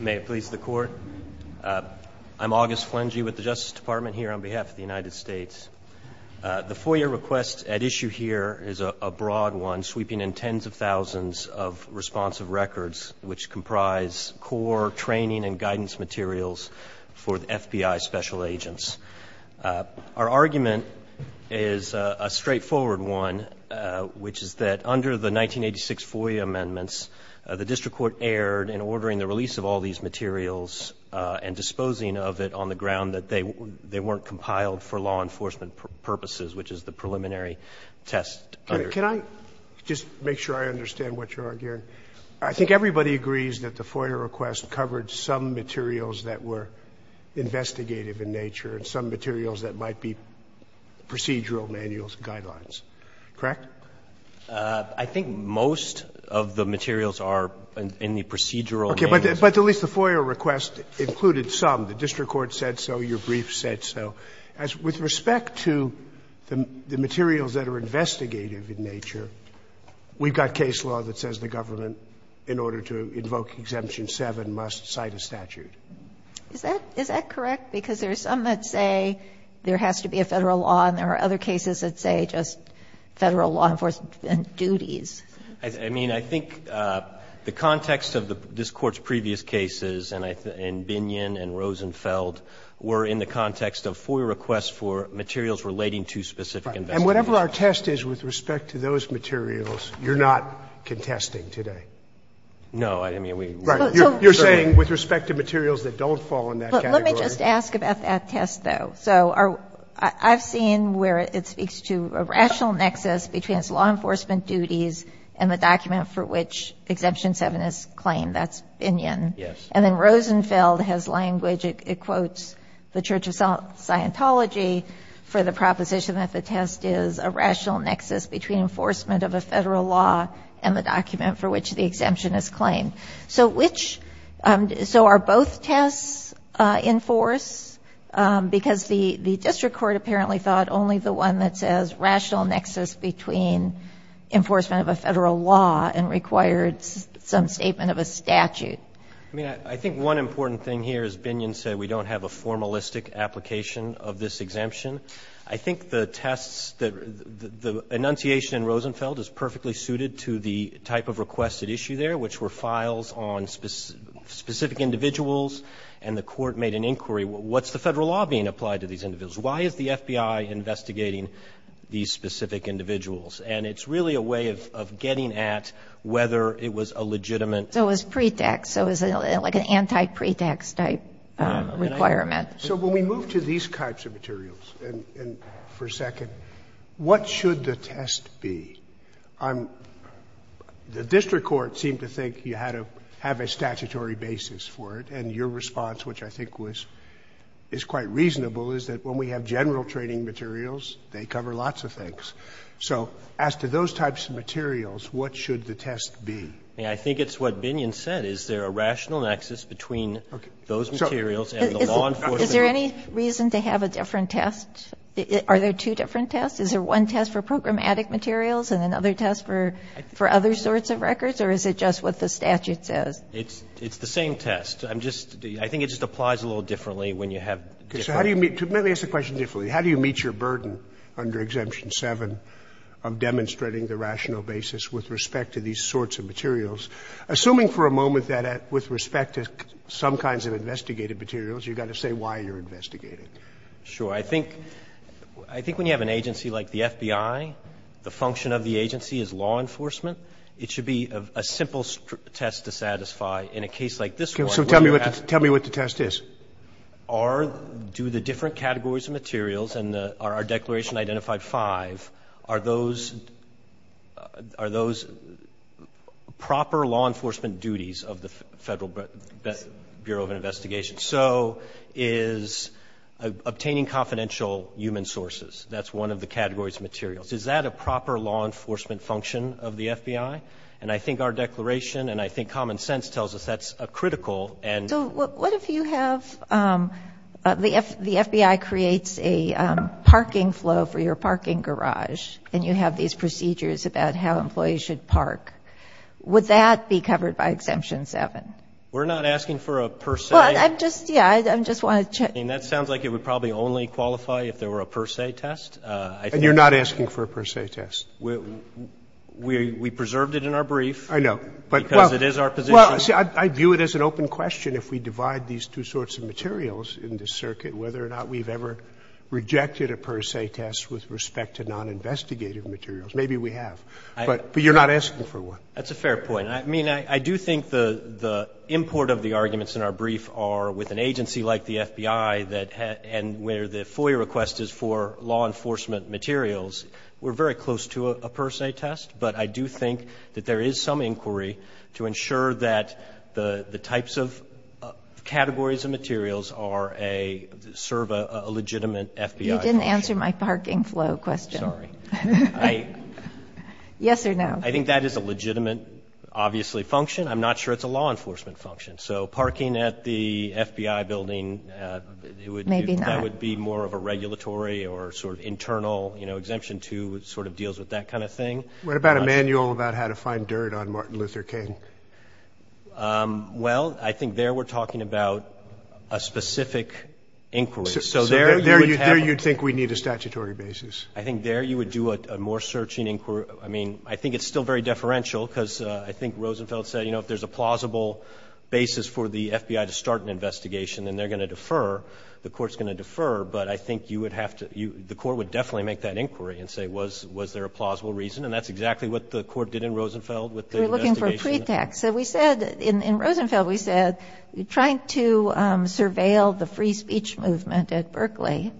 May it please the Court. I'm August Flangey with the Justice Department here on behalf of the United States. The FOIA request at issue here is a broad one, sweeping in tens of thousands of responsive records, which comprise core training and guidance materials for the FBI special agents. Our argument is a straightforward one, which is that under the 1986 FOIA amendments, the district court erred in ordering the release of all these materials and disposing of it on the ground that they weren't compiled for law enforcement purposes, which is the preliminary test. Sotomayor, can I just make sure I understand what you're arguing? I think everybody agrees that the FOIA request covered some materials that were investigative in nature and some materials that might be procedural manuals, guidelines. Correct? I think most of the materials are in the procedural manuals. Okay. But at least the FOIA request included some. The district court said so. Your brief said so. With respect to the materials that are investigative in nature, we've got case law that says the government, in order to invoke Exemption 7, must cite a statute. Is that correct? Because there's some that say there has to be a Federal law and there are other cases that say just Federal law enforcement duties. I mean, I think the context of this Court's previous cases, and Binyon and Rosenfeld, were in the context of FOIA requests for materials relating to specific investigation. And whatever our test is with respect to those materials, you're not contesting today. No, I didn't mean we were. You're saying with respect to materials that don't fall in that category. Let me just ask about that test, though. So I've seen where it speaks to a rational nexus between its law enforcement duties and the document for which Exemption 7 is claimed. That's Binyon. Yes. And then Rosenfeld has language, it quotes the Church of Scientology for the proposition that the test is a rational nexus between enforcement of a Federal law and the document for which the exemption is claimed. So which — so are both tests in force? Because the district court apparently thought only the one that says rational nexus between enforcement of a Federal law and required some statement of a statute. I mean, I think one important thing here is Binyon said we don't have a formalistic application of this exemption. I think the tests that — the enunciation in Rosenfeld is perfectly suited to the type of requested issue there, which were files on specific individuals. And the Court made an inquiry. What's the Federal law being applied to these individuals? Why is the FBI investigating these specific individuals? And it's really a way of getting at whether it was a legitimate — So it was pretext. So it was like an anti-pretext type requirement. So when we move to these types of materials, and for a second, what should the test be? I'm — the district court seemed to think you had to have a statutory basis for it. And your response, which I think was — is quite reasonable, is that when we have general training materials, they cover lots of things. So as to those types of materials, what should the test be? I think it's what Binyon said. Is there a rational nexus between those materials and the law enforcement? Is there any reason to have a different test? Are there two different tests? Is there one test for programmatic materials and another test for other sorts of records? Or is it just what the statute says? It's the same test. I'm just — I think it just applies a little differently when you have different — Let me ask the question differently. How do you meet your burden under Exemption 7 of demonstrating the rational basis with respect to these sorts of materials? Assuming for a moment that with respect to some kinds of investigated materials, you've got to say why you're investigating. Sure. I think — I think when you have an agency like the FBI, the function of the agency is law enforcement. It should be a simple test to satisfy. In a case like this one — So tell me what — tell me what the test is. Are — do the different categories of materials and the — are our declaration identified five? Are those — are those proper law enforcement duties of the Federal Bureau of Investigation? So is obtaining confidential human sources, that's one of the categories of materials. Is that a proper law enforcement function of the FBI? And I think our declaration and I think common sense tells us that's a critical and — So what if you have — the FBI creates a parking flow for your parking garage and you have these procedures about how employees should park. Would that be covered by Exemption 7? We're not asking for a per se — Well, I'm just — yeah, I just want to check. I mean, that sounds like it would probably only qualify if there were a per se test. I think — And you're not asking for a per se test? We — we preserved it in our brief. I know. But — Because it is our position. Well, see, I view it as an open question if we divide these two sorts of materials in this circuit, whether or not we've ever rejected a per se test with respect to non-investigative materials. Maybe we have. But — but you're not asking for one. That's a fair point. I mean, I do think the — the import of the arguments in our brief are with an agency like the FBI that — and where the FOIA request is for law enforcement materials, we're very close to a per se test. But I do think that there is some inquiry to ensure that the — the types of categories and materials are a — serve a legitimate FBI function. You didn't answer my parking flow question. Sorry. I — Yes or no? I think that is a legitimate, obviously, function. I'm not sure it's a law enforcement function. So parking at the FBI building, it would — Maybe not. — that would be more of a regulatory or sort of internal, you know, exemption to — sort of deals with that kind of thing. What about a manual about how to find dirt on Martin Luther King? Well, I think there we're talking about a specific inquiry. So there — There you — there you'd think we'd need a statutory basis. I think there you would do a more searching inquiry. I mean, I think it's still very deferential because I think Rosenfeld said, you know, if there's a plausible basis for the FBI to start an investigation, then they're going to defer. The court's going to defer. But I think you would have to — the court would definitely make that inquiry and say, was there a plausible reason? And that's exactly what the court did in Rosenfeld with the investigation. We're looking for a pretext. So we said — in Rosenfeld, we said trying to surveil the free speech movement at Berkeley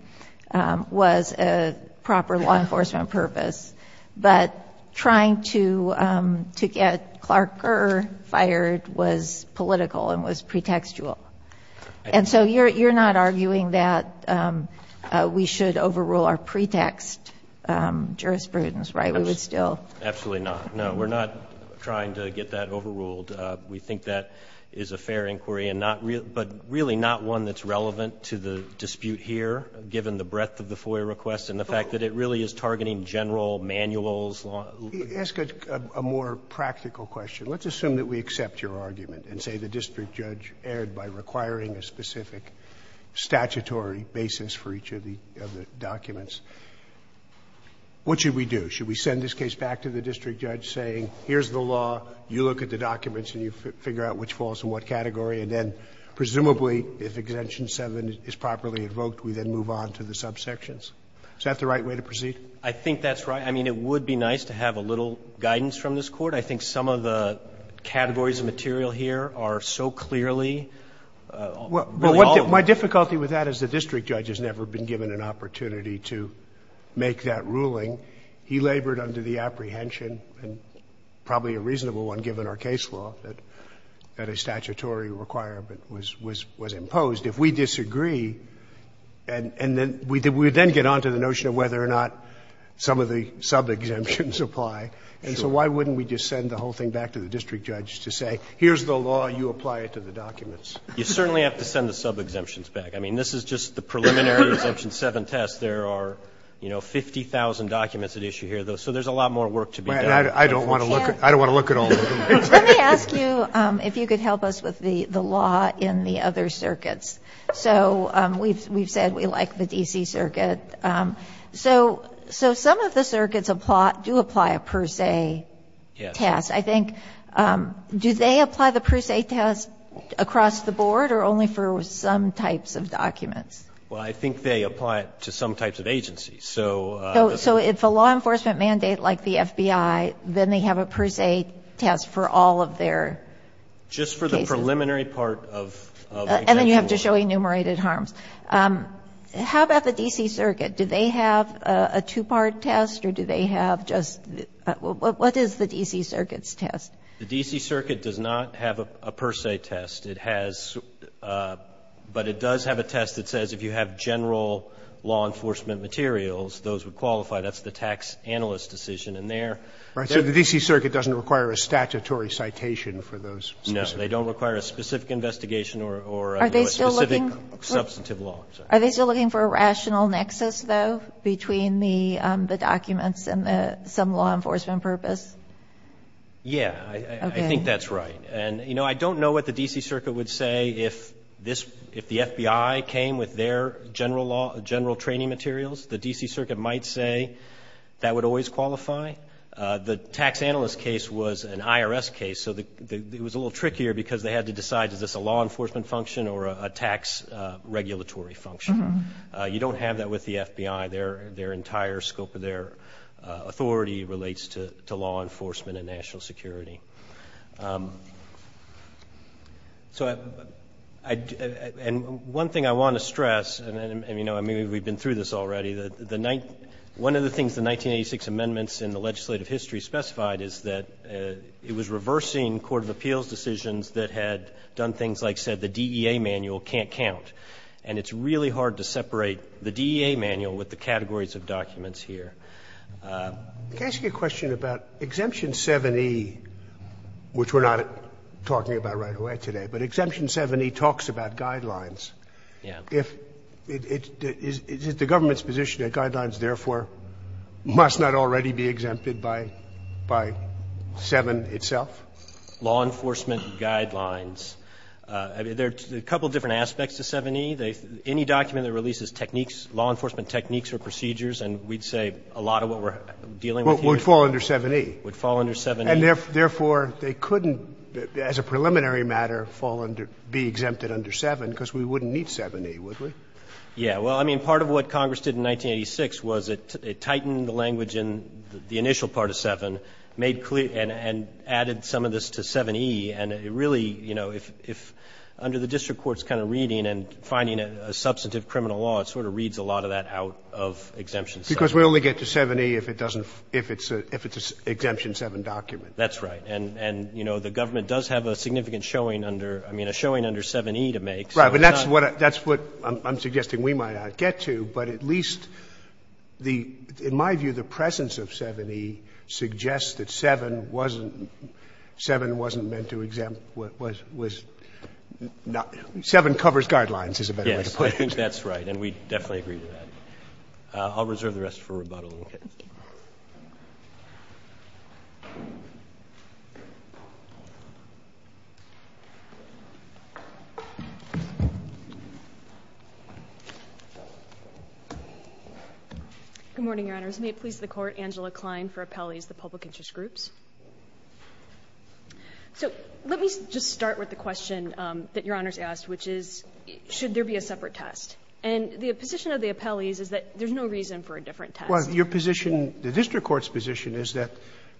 was a proper law enforcement purpose. But trying to get Clark Kerr fired was political and was pretextual. And so you're not arguing that we should overrule our pretext jurisprudence, right? We would still — Absolutely not. No, we're not trying to get that overruled. We think that is a fair inquiry and not — but really not one that's relevant to the dispute here, given the breadth of the FOIA request and the fact that it really is targeting general law, manuals, law — Ask a more practical question. Let's assume that we accept your argument and say the district judge erred by requiring a specific statutory basis for each of the documents. What should we do? Should we send this case back to the district judge saying, here's the law, you look at the documents and you figure out which falls in what category, and then presumably if Exemption 7 is properly invoked, we then move on to the subsections? Is that the right way to proceed? I think that's right. I mean, it would be nice to have a little guidance from this Court. I think some of the categories of material here are so clearly — Well, my difficulty with that is the district judge has never been given an opportunity to make that ruling. He labored under the apprehension, and probably a reasonable one given our case law, that a statutory requirement was imposed. If we disagree, and then we then get on to the notion of whether or not some of the sub-exemptions apply. And so why wouldn't we just send the whole thing back to the district judge to say, here's the law, you apply it to the documents? You certainly have to send the sub-exemptions back. I mean, this is just the preliminary Exemption 7 test. There are, you know, 50,000 documents at issue here. So there's a lot more work to be done. I don't want to look at all of them. Let me ask you if you could help us with the law in the other circuits. So we've said we like the D.C. Circuit. So some of the circuits do apply a per se test. I think — do they apply the per se test across the board or only for some types of documents? Well, I think they apply it to some types of agencies. So if a law enforcement mandate like the FBI, then they have a per se test for all of their cases? Just for the preliminary part of — And then you have to show enumerated harms. How about the D.C. Circuit? Do they have a two-part test or do they have just — what is the D.C. Circuit's test? The D.C. Circuit does not have a per se test. It has — but it does have a test that says if you have general law enforcement materials, those would qualify. That's the tax analyst decision. And they're — So the D.C. Circuit doesn't require a statutory citation for those specific — No, they don't require a specific investigation or a specific substantive law. Are they still looking for a rational nexus, though, between the documents and some law enforcement purpose? Yeah, I think that's right. And, you know, I don't know what the D.C. Circuit would say if this — if the FBI came with their general law — general training materials. The D.C. Circuit might say that would always qualify. The tax analyst case was an IRS case, so it was a little trickier because they had to decide, is this a law enforcement function or a tax regulatory function? You don't have that with the FBI. Their entire scope of their authority relates to law enforcement and national security. So I — and one thing I want to stress, and, you know, I mean, we've been through this already. The — one of the things the 1986 amendments in the legislative history specified is that it was reversing court of appeals decisions that had done things like said the DEA manual can't count. And it's really hard to separate the DEA manual with the categories of documents here. Can I ask you a question about Exemption 7e, which we're not talking about right away today? But Exemption 7e talks about guidelines. Yeah. If — is it the government's position that guidelines, therefore, must not already be exempted by 7 itself? I mean, there are a couple of different aspects to 7e. Any document that releases techniques, law enforcement techniques or procedures, and we'd say a lot of what we're dealing with here — Would fall under 7e. Would fall under 7e. And therefore, they couldn't, as a preliminary matter, fall under — be exempted under 7 because we wouldn't need 7e, would we? Yeah. Well, I mean, part of what Congress did in 1986 was it tightened the language in the initial part of 7, made clear — and added some of this to 7e. And it really, you know, if — under the district court's kind of reading and finding a substantive criminal law, it sort of reads a lot of that out of Exemption 7. Because we only get to 7e if it doesn't — if it's a — if it's an Exemption 7 document. That's right. And, you know, the government does have a significant showing under — I mean, a showing under 7e to make. Right. But that's what — that's what I'm suggesting we might not get to. But at least the — in my view, the presence of 7e suggests that 7 wasn't — 7 wasn't meant to exempt — was — 7 covers guidelines, is a better way to put it. Yes. I think that's right. And we definitely agree with that. I'll reserve the rest for rebuttal. Okay. Good morning, Your Honors. May it please the Court, Angela Klein for Appellees, the Public Interest Groups. So let me just start with the question that Your Honors asked, which is, should there be a separate test? And the position of the appellees is that there's no reason for a different test. Well, your position — the district court's position is that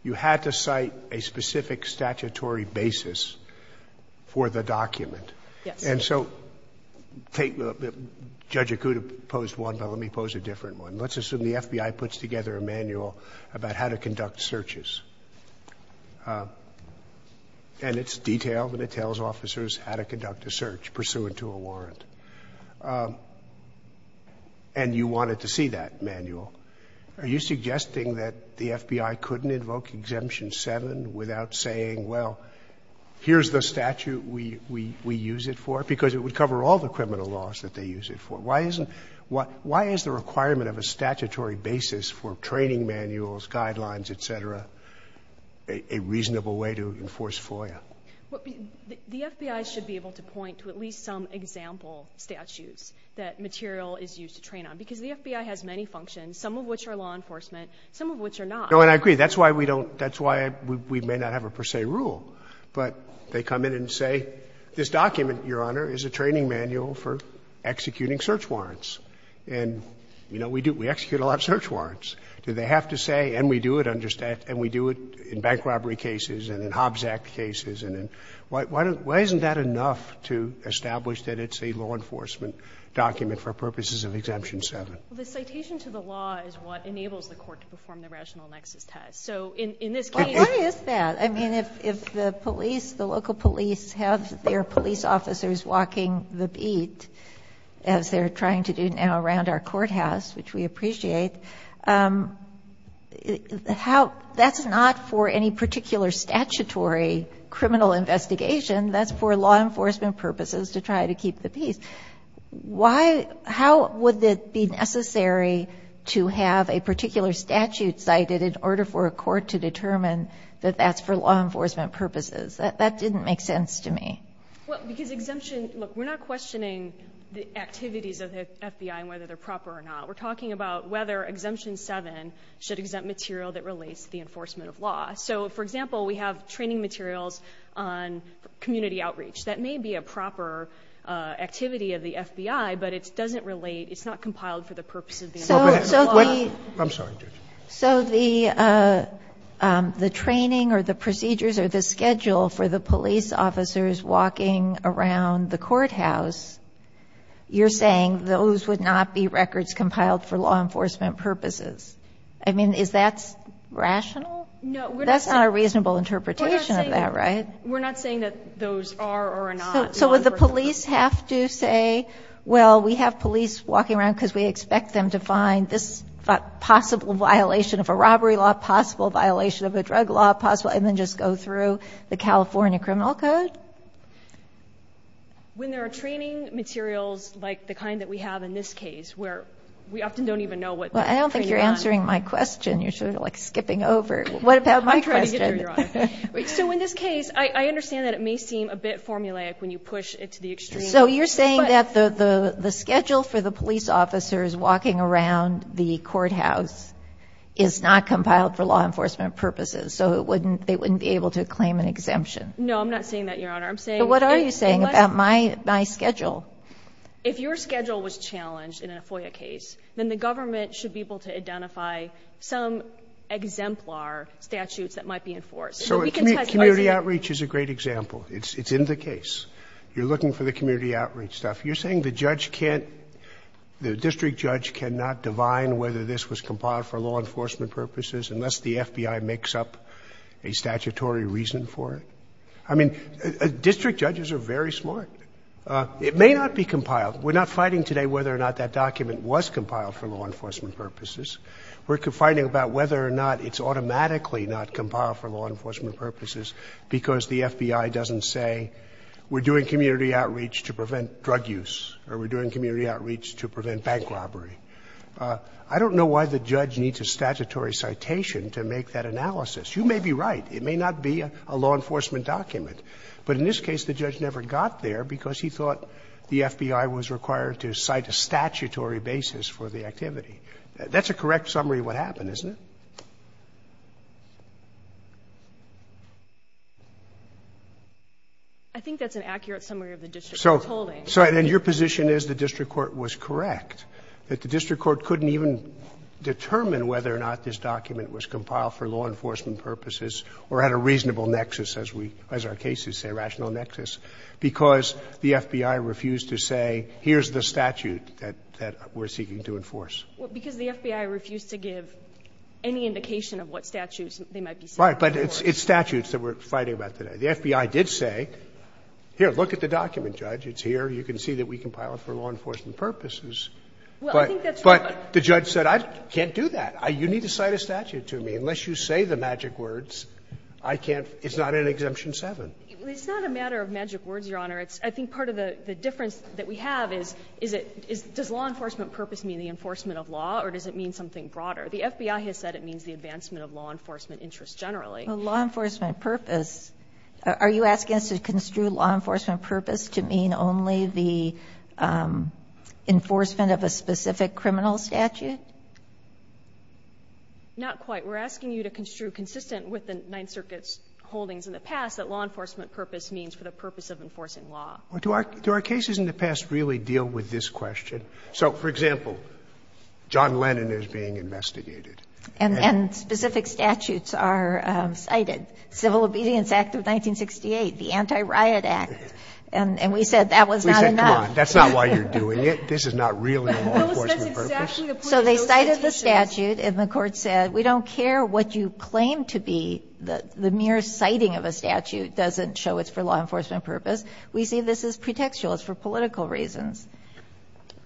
you had to cite a specific statutory basis for the document. Yes. And so take — Judge Akuta posed one, but let me pose a different one. Let's assume the FBI puts together a manual about how to conduct searches, and it's detailed and it tells officers how to conduct a search pursuant to a warrant, and you wanted to see that manual. Are you suggesting that the FBI couldn't invoke Exemption 7 without saying, well, here's the statute we use it for? Because it would cover all the criminal laws that they use it for. Why isn't — why is the requirement of a statutory basis for training manuals, guidelines, et cetera, a reasonable way to enforce FOIA? Well, the FBI should be able to point to at least some example statutes that material is used to train on, because the FBI has many functions, some of which are law enforcement, some of which are not. No, and I agree. That's why we don't — that's why we may not have a per se rule. But they come in and say, this document, Your Honor, is a training manual for executing search warrants. And, you know, we do — we execute a lot of search warrants. Do they have to say, and we do it under — and we do it in bank robbery cases and in Hobbs Act cases? And why isn't that enough to establish that it's a law enforcement document for purposes of Exemption 7? Well, the citation to the law is what enables the Court to perform the rational nexus test. So in this case — But why is that? I mean, if the police, the local police have their police officers walking the beat, as they're trying to do now around our courthouse, which we appreciate, how — that's not for any particular statutory criminal investigation. That's for law enforcement purposes to try to keep the peace. Why — how would it be necessary to have a particular statute cited in order for a court to determine that that's for law enforcement purposes? That didn't make sense to me. Well, because Exemption — look, we're not questioning the activities of the FBI and whether they're proper or not. We're talking about whether Exemption 7 should exempt material that relates to the enforcement of law. So, for example, we have training materials on community outreach. That may be a proper activity of the FBI, but it doesn't relate — it's not compiled for the purpose of the enforcement of law. I'm sorry. So the training or the procedures or the schedule for the police officers walking around the courthouse, you're saying those would not be records compiled for law enforcement purposes. I mean, is that rational? No. That's not a reasonable interpretation of that, right? We're not saying that those are or are not. So would the police have to say, well, we have police walking around because we expect them to find this possible violation of a robbery law, possible violation of a drug law, possible — and then just go through the California criminal code? Well, when there are training materials like the kind that we have in this case, where we often don't even know what — Well, I don't think you're answering my question. You're sort of, like, skipping over. What about my question? So in this case, I understand that it may seem a bit formulaic when you push it to the extreme. So you're saying that the schedule for the police officers walking around the courthouse is not compiled for law enforcement purposes. So it wouldn't — they wouldn't be able to claim an exemption. No, I'm not saying that, Your Honor. I'm saying — But what are you saying about my schedule? If your schedule was challenged in a FOIA case, then the government should be able to identify some exemplar statutes that might be enforced. So we can — So community outreach is a great example. It's in the case. You're looking for the community outreach stuff. You're saying the judge can't — the district judge cannot divine whether this was compiled for law enforcement purposes unless the FBI makes up a statutory reason for it? I mean, district judges are very smart. It may not be compiled. We're not fighting today whether or not that document was compiled for law enforcement purposes. We're fighting about whether or not it's automatically not compiled for law enforcement purposes because the FBI doesn't say we're doing community outreach to prevent drug use or we're doing community outreach to prevent bank robbery. I don't know why the judge needs a statutory citation to make that analysis. You may be right. It may not be a law enforcement document. But in this case, the judge never got there because he thought the FBI was required to cite a statutory basis for the activity. That's a correct summary of what happened, isn't it? I think that's an accurate summary of the district court's holding. Well, because the FBI refused to give any indication of what statutes they might be seeking to enforce. Right. But it's statutes that we're fighting about today. The FBI did say, here, look at the document, Judge. It's here. You can see that we compiled it for law enforcement purposes. Well, I think that's right. But the judge said, I can't do that. You need to cite a statute to me. Unless you say the magic words, I can't – it's not in Exemption 7. It's not a matter of magic words, Your Honor. It's – I think part of the difference that we have is, is it – does law enforcement purpose mean the enforcement of law or does it mean something broader? The FBI has said it means the advancement of law enforcement interests generally. Well, law enforcement purpose – are you asking us to construe law enforcement purpose to mean only the enforcement of a specific criminal statute? Not quite. We're asking you to construe, consistent with the Ninth Circuit's holdings in the past, that law enforcement purpose means for the purpose of enforcing law. Do our cases in the past really deal with this question? So, for example, John Lennon is being investigated. And specific statutes are cited. Civil Obedience Act of 1968, the Anti-Riot Act. And we said that was not enough. We said, come on, that's not why you're doing it. This is not really a law enforcement purpose. So they cited the statute and the court said, we don't care what you claim to be. The mere citing of a statute doesn't show it's for law enforcement purpose. We see this as pretextual. It's for political reasons.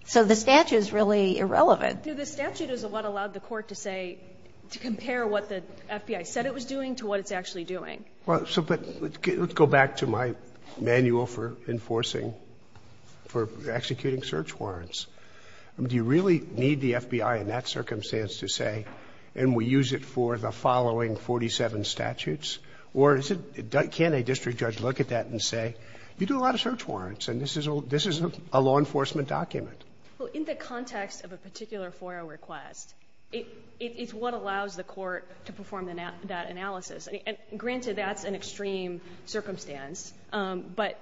So the statute is really irrelevant. No, the statute is what allowed the court to say – to compare what the FBI said it was doing to what it's actually doing. Well, so – but let's go back to my manual for enforcing – for executing search warrants. Do you really need the FBI in that circumstance to say, and we use it for the following 47 statutes? Or is it – can a district judge look at that and say, you do a lot of search warrants and this is a law enforcement document? Well, in the context of a particular FOIA request, it's what allows the court to perform that analysis. Granted, that's an extreme circumstance, but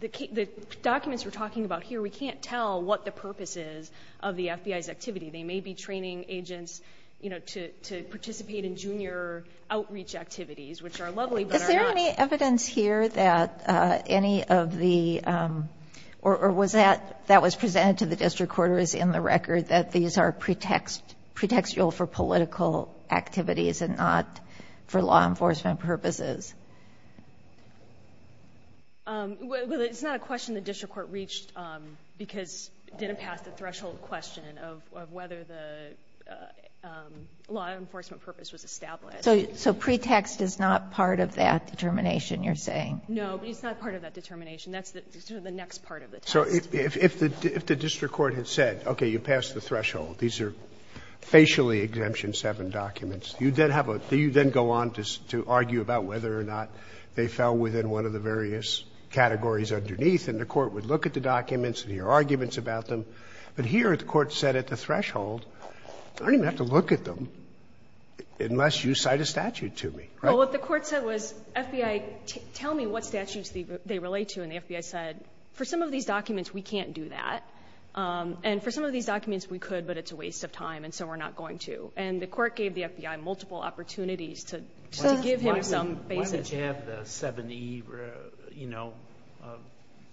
the documents we're talking about here, we can't tell what the purpose is of the FBI's activity. They may be training agents, you know, to participate in junior outreach activities, which are lovely, but are not – Is there any evidence here that any of the – or was that – that was presented to the district court or is in the record that these are pretextual for political activities and not for law enforcement purposes? Well, it's not a question the district court reached because it didn't pass the threshold question of whether the law enforcement purpose was established. So pretext is not part of that determination, you're saying? No, but it's not part of that determination. That's the next part of the test. So if the district court had said, okay, you passed the threshold, these are facially Exemption 7 documents, you then have a – do you then go on to argue about whether or not they fell within one of the various categories underneath? And the court would look at the documents and hear arguments about them. But here, the court said at the threshold, I don't even have to look at them unless you cite a statute to me, right? Well, what the court said was, FBI, tell me what statutes they relate to. And the FBI said, for some of these documents, we can't do that. And for some of these documents, we could, but it's a waste of time and so we're not going to. And the court gave the FBI multiple opportunities to give him some basis. Would you have the 7E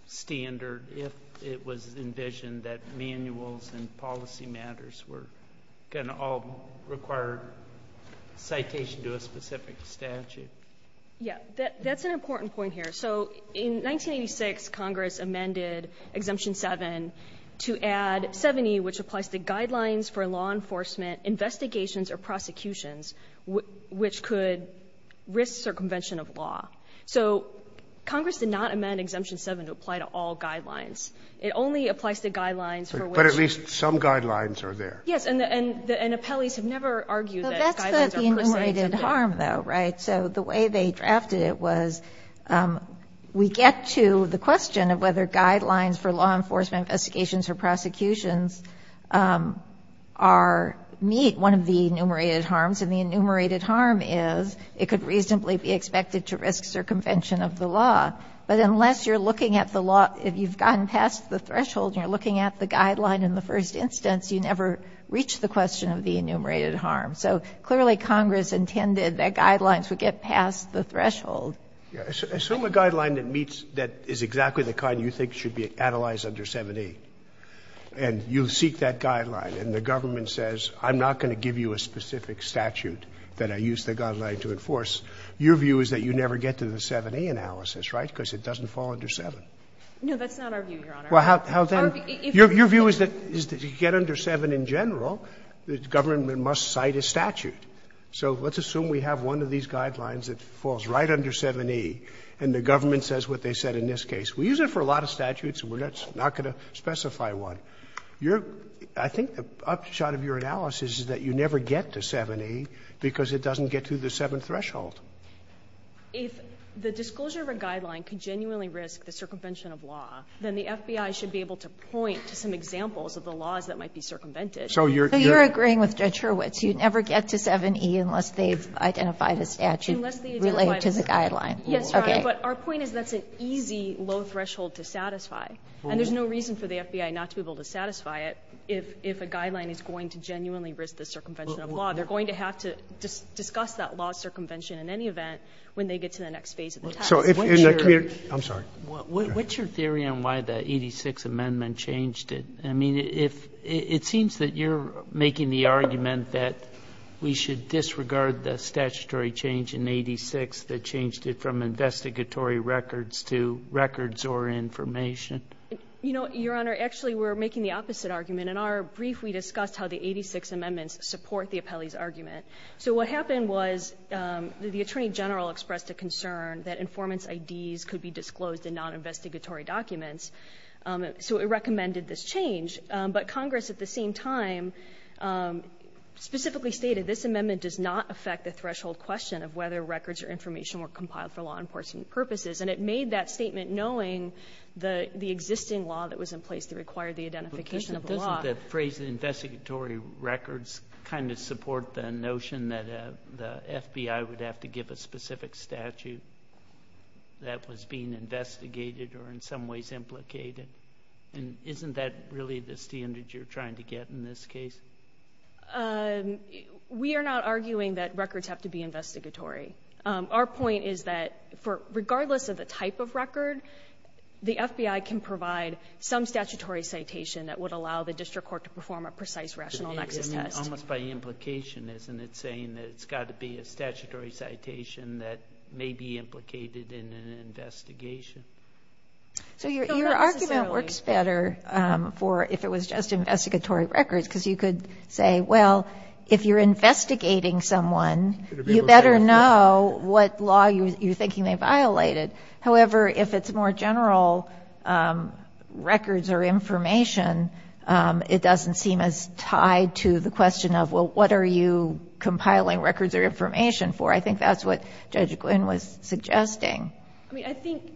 standard if it was envisioned that manuals and policy matters were going to all require citation to a specific statute? Yeah, that's an important point here. So in 1986, Congress amended Exemption 7 to add 7E, which applies to guidelines for law enforcement, investigations, or prosecutions which could risk circumvention of law. So Congress did not amend Exemption 7 to apply to all guidelines. It only applies to guidelines for which you use. But at least some guidelines are there. Yes. And the – and the appellees have never argued that guidelines are per se there. Well, that's the enumerated harm, though, right? So the way they drafted it was we get to the question of whether guidelines for law enforcement, investigations, or prosecutions are – meet one of the enumerated harms, and the enumerated harm is it could reasonably be expected to risk circumvention of the law. But unless you're looking at the law, if you've gotten past the threshold and you're looking at the guideline in the first instance, you never reach the question of the enumerated harm. So clearly, Congress intended that guidelines would get past the threshold. Assume a guideline that meets – that is exactly the kind you think should be analyzed under 7A, and you seek that guideline, and the government says, I'm not going to give you a specific statute that I use the guideline to enforce. Your view is that you never get to the 7A analysis, right, because it doesn't fall under 7. No, that's not our view, Your Honor. Well, how then – your view is that if you get under 7 in general, the government must cite a statute. So let's assume we have one of these guidelines that falls right under 7E, and the government says what they said in this case. We use it for a lot of statutes, and we're not going to specify one. Your – I think the upshot of your analysis is that you never get to 7A because it doesn't get to the seventh threshold. If the disclosure of a guideline could genuinely risk the circumvention of law, then the FBI should be able to point to some examples of the laws that might be circumvented. So you're – But even with Judge Hurwitz, you never get to 7E unless they've identified a statute related to the guideline. Yes, Your Honor. But our point is that's an easy low threshold to satisfy, and there's no reason for the FBI not to be able to satisfy it if a guideline is going to genuinely risk the circumvention of law. They're going to have to discuss that law circumvention in any event when they get to the next phase of the test. So in the community – I'm sorry. What's your theory on why the 86th Amendment changed it? I mean, if – it seems that you're making the argument that we should disregard the statutory change in 86 that changed it from investigatory records to records or information. You know, Your Honor, actually, we're making the opposite argument. In our brief, we discussed how the 86th Amendments support the appellee's argument. So what happened was the Attorney General expressed a concern that informant's IDs could be disclosed in non-investigatory documents. So it recommended this change. But Congress, at the same time, specifically stated this amendment does not affect the threshold question of whether records or information were compiled for law enforcement purposes. And it made that statement knowing the existing law that was in place that required the identification of the law. But doesn't the phrase investigatory records kind of support the notion that the FBI would have to give a specific statute that was being investigated or in some ways implicated? And isn't that really the standard you're trying to get in this case? We are not arguing that records have to be investigatory. Our point is that regardless of the type of record, the FBI can provide some statutory citation that would allow the district court to perform a precise rational nexus test. Almost by implication, isn't it, saying that it's got to be a statutory citation that may be implicated in an investigation? So your argument works better for if it was just investigatory records, because you could say, well, if you're investigating someone, you better know what law you're thinking they violated. However, if it's more general records or information, it doesn't seem as tied to the question of, well, what are you compiling records or information for? I think that's what Judge Glynn was suggesting. I mean, I think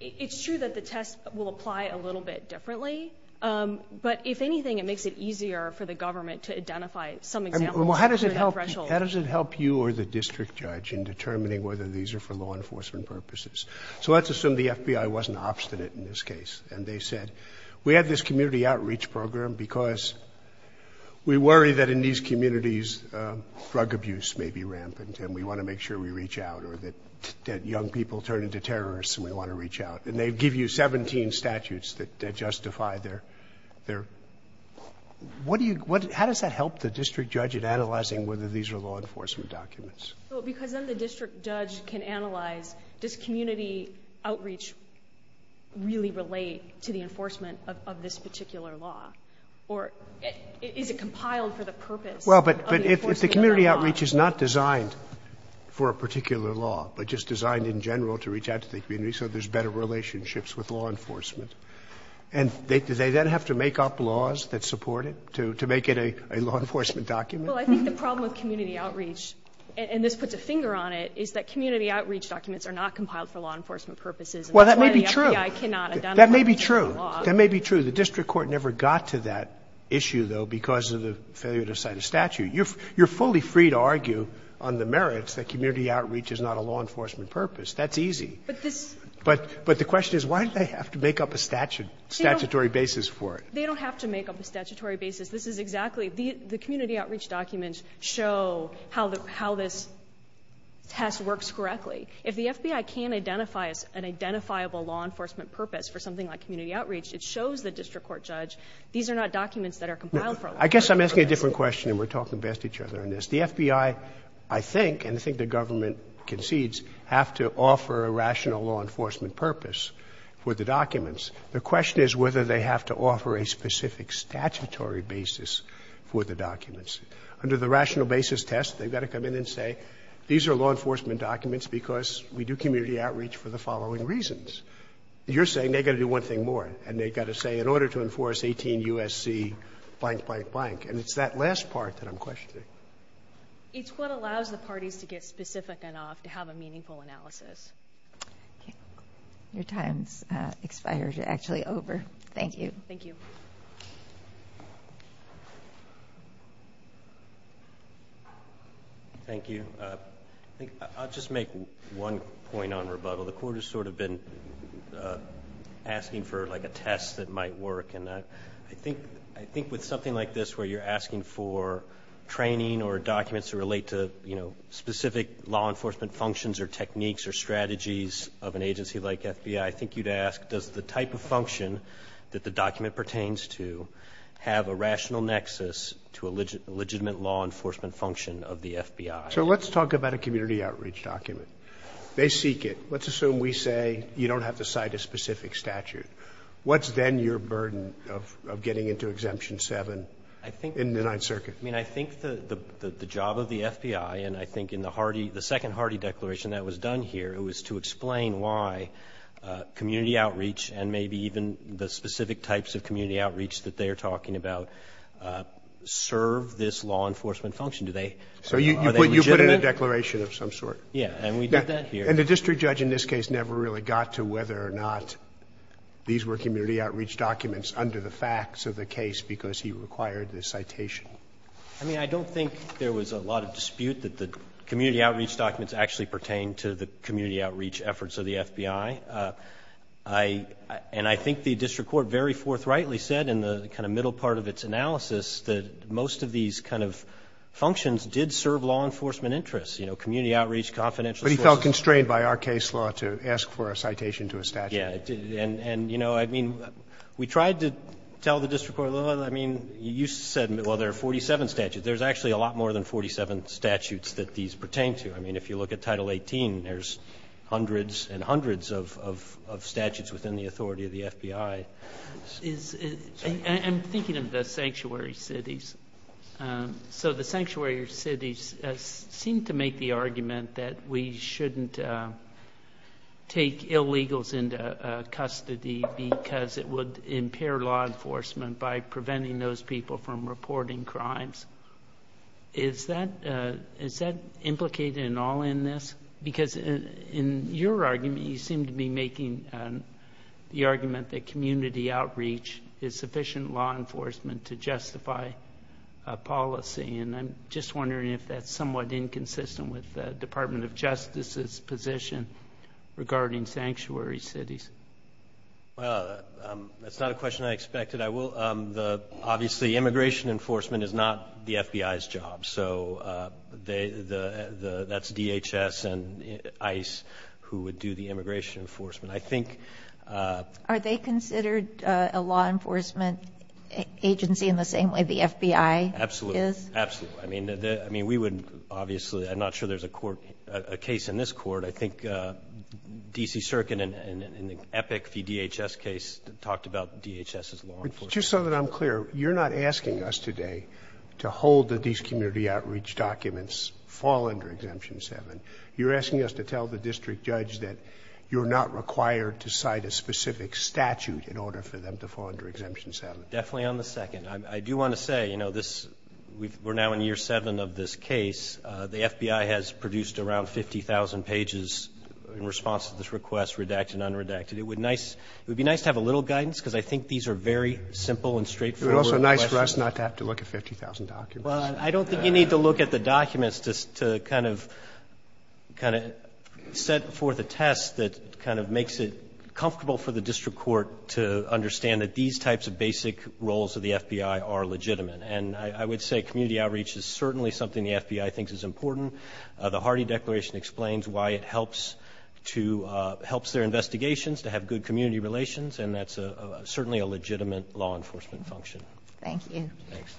it's true that the test will apply a little bit differently, but if anything, it makes it easier for the government to identify some examples under that threshold. How does it help you or the district judge in determining whether these are for law enforcement purposes? So let's assume the FBI wasn't obstinate in this case and they said, we have this community outreach program because we worry that in these communities, drug abuse may be rampant and we want to make sure we reach out or that young people turn into terrorists and we want to reach out. And they give you 17 statutes that justify their – what do you – how does that help the district judge in analyzing whether these are law enforcement documents? Well, because then the district judge can analyze, does community outreach really relate to the enforcement of this particular law, or is it compiled for the purpose of the enforcement of that law? Well, but if the community outreach is not designed for a particular law, but just designed in general to reach out to the community so there's better relationships with law enforcement, and do they then have to make up laws that support it to make it a law enforcement document? Well, I think the problem with community outreach, and this puts a finger on it, is that community outreach documents are not compiled for law enforcement purposes. Well, that may be true. And that's why the FBI cannot identify them under the law. That may be true. That may be true. The district court never got to that issue, though, because of the failure to cite a statute. You're fully free to argue on the merits that community outreach is not a law enforcement purpose. That's easy. But this – But the question is, why do they have to make up a statutory basis for it? They don't have to make up a statutory basis. This is exactly – the community outreach documents show how this test works correctly. If the FBI can't identify an identifiable law enforcement purpose for something like community outreach, it shows the district court judge these are not documents that are compiled for a law enforcement purpose. No. I guess I'm asking a different question, and we're talking past each other on this. The FBI, I think, and I think the government concedes, have to offer a rational law enforcement purpose for the documents. The question is whether they have to offer a specific statutory basis for the documents. Under the rational basis test, they've got to come in and say these are law enforcement documents because we do community outreach for the following reasons. You're saying they've got to do one thing more, and they've got to say in order to enforce 18 U.S.C. blank, blank, blank. And it's that last part that I'm questioning. It's what allows the parties to get specific enough to have a meaningful analysis. Okay. Your time's expired. You're actually over. Thank you. Thank you. Thank you. I'll just make one point on rebuttal. The Court has sort of been asking for, like, a test that might work. And I think with something like this where you're asking for training or documents that relate to, you know, specific law enforcement functions or techniques or strategies of an agency like FBI, I think you'd ask does the type of function that the document pertains to have a rational nexus to a legitimate law enforcement function of the FBI? So let's talk about a community outreach document. They seek it. Let's assume we say you don't have to cite a specific statute. What's then your burden of getting into Exemption 7 in the Ninth Circuit? I mean, I think the job of the FBI, and I think in the second Hardy declaration that was done here, it was to explain why community outreach and maybe even the specific types of community outreach that they are talking about serve this law enforcement function. Are they legitimate? So you put in a declaration of some sort. Yeah, and we did that here. And the district judge in this case never really got to whether or not these were community outreach documents under the facts of the case because he required the citation. I mean, I don't think there was a lot of dispute that the community outreach documents actually pertain to the community outreach efforts of the FBI. I — and I think the district court very forthrightly said in the kind of middle part of its analysis that most of these kind of functions did serve law enforcement interests, you know, community outreach, confidential sources. But he felt constrained by our case law to ask for a citation to a statute. Yeah. And, you know, I mean, we tried to tell the district court, I mean, you said, well, there are 47 statutes. There's actually a lot more than 47 statutes that these pertain to. I mean, if you look at Title 18, there's hundreds and hundreds of statutes within the authority of the FBI. I'm thinking of the sanctuary cities. So the sanctuary cities seem to make the argument that we shouldn't take illegals into custody because it would impair law enforcement by preventing those people from reporting crimes. Is that implicated at all in this? Because in your argument, you seem to be making the argument that community outreach is sufficient law enforcement to justify a policy. And I'm just wondering if that's somewhat inconsistent with the Department of Justice's position regarding sanctuary cities. Well, that's not a question I expected. Obviously, immigration enforcement is not the FBI's job. So that's DHS and ICE who would do the immigration enforcement. Are they considered a law enforcement agency in the same way the FBI is? Absolutely. Absolutely. I mean, we would obviously, I'm not sure there's a case in this court. I think D.C. Circuit in the Epic v. DHS case talked about DHS as law enforcement. Just so that I'm clear, you're not asking us today to hold that these community outreach documents fall under Exemption 7. You're asking us to tell the district judge that you're not required to cite a specific statute in order for them to fall under Exemption 7. Definitely on the second. I do want to say, you know, we're now in year 7 of this case. The FBI has produced around 50,000 pages in response to this request, redacted and unredacted. It would be nice to have a little guidance because I think these are very simple and straightforward questions. It would also be nice for us not to have to look at 50,000 documents. Well, I don't think you need to look at the documents to kind of set forth a test that kind of makes it comfortable for the district court to understand that these types of basic roles of the FBI are legitimate. And I would say community outreach is certainly something the FBI thinks is important. The Hardy Declaration explains why it helps their investigations, to have good community relations, and that's certainly a legitimate law enforcement function. Thank you.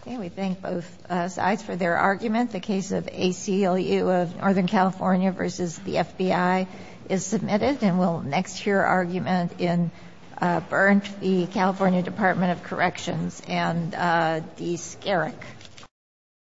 Okay. We thank both sides for their argument. The case of ACLU of Northern California versus the FBI is submitted. And we'll next hear argument in Berndt, the California Department of Corrections, and D. Skerek.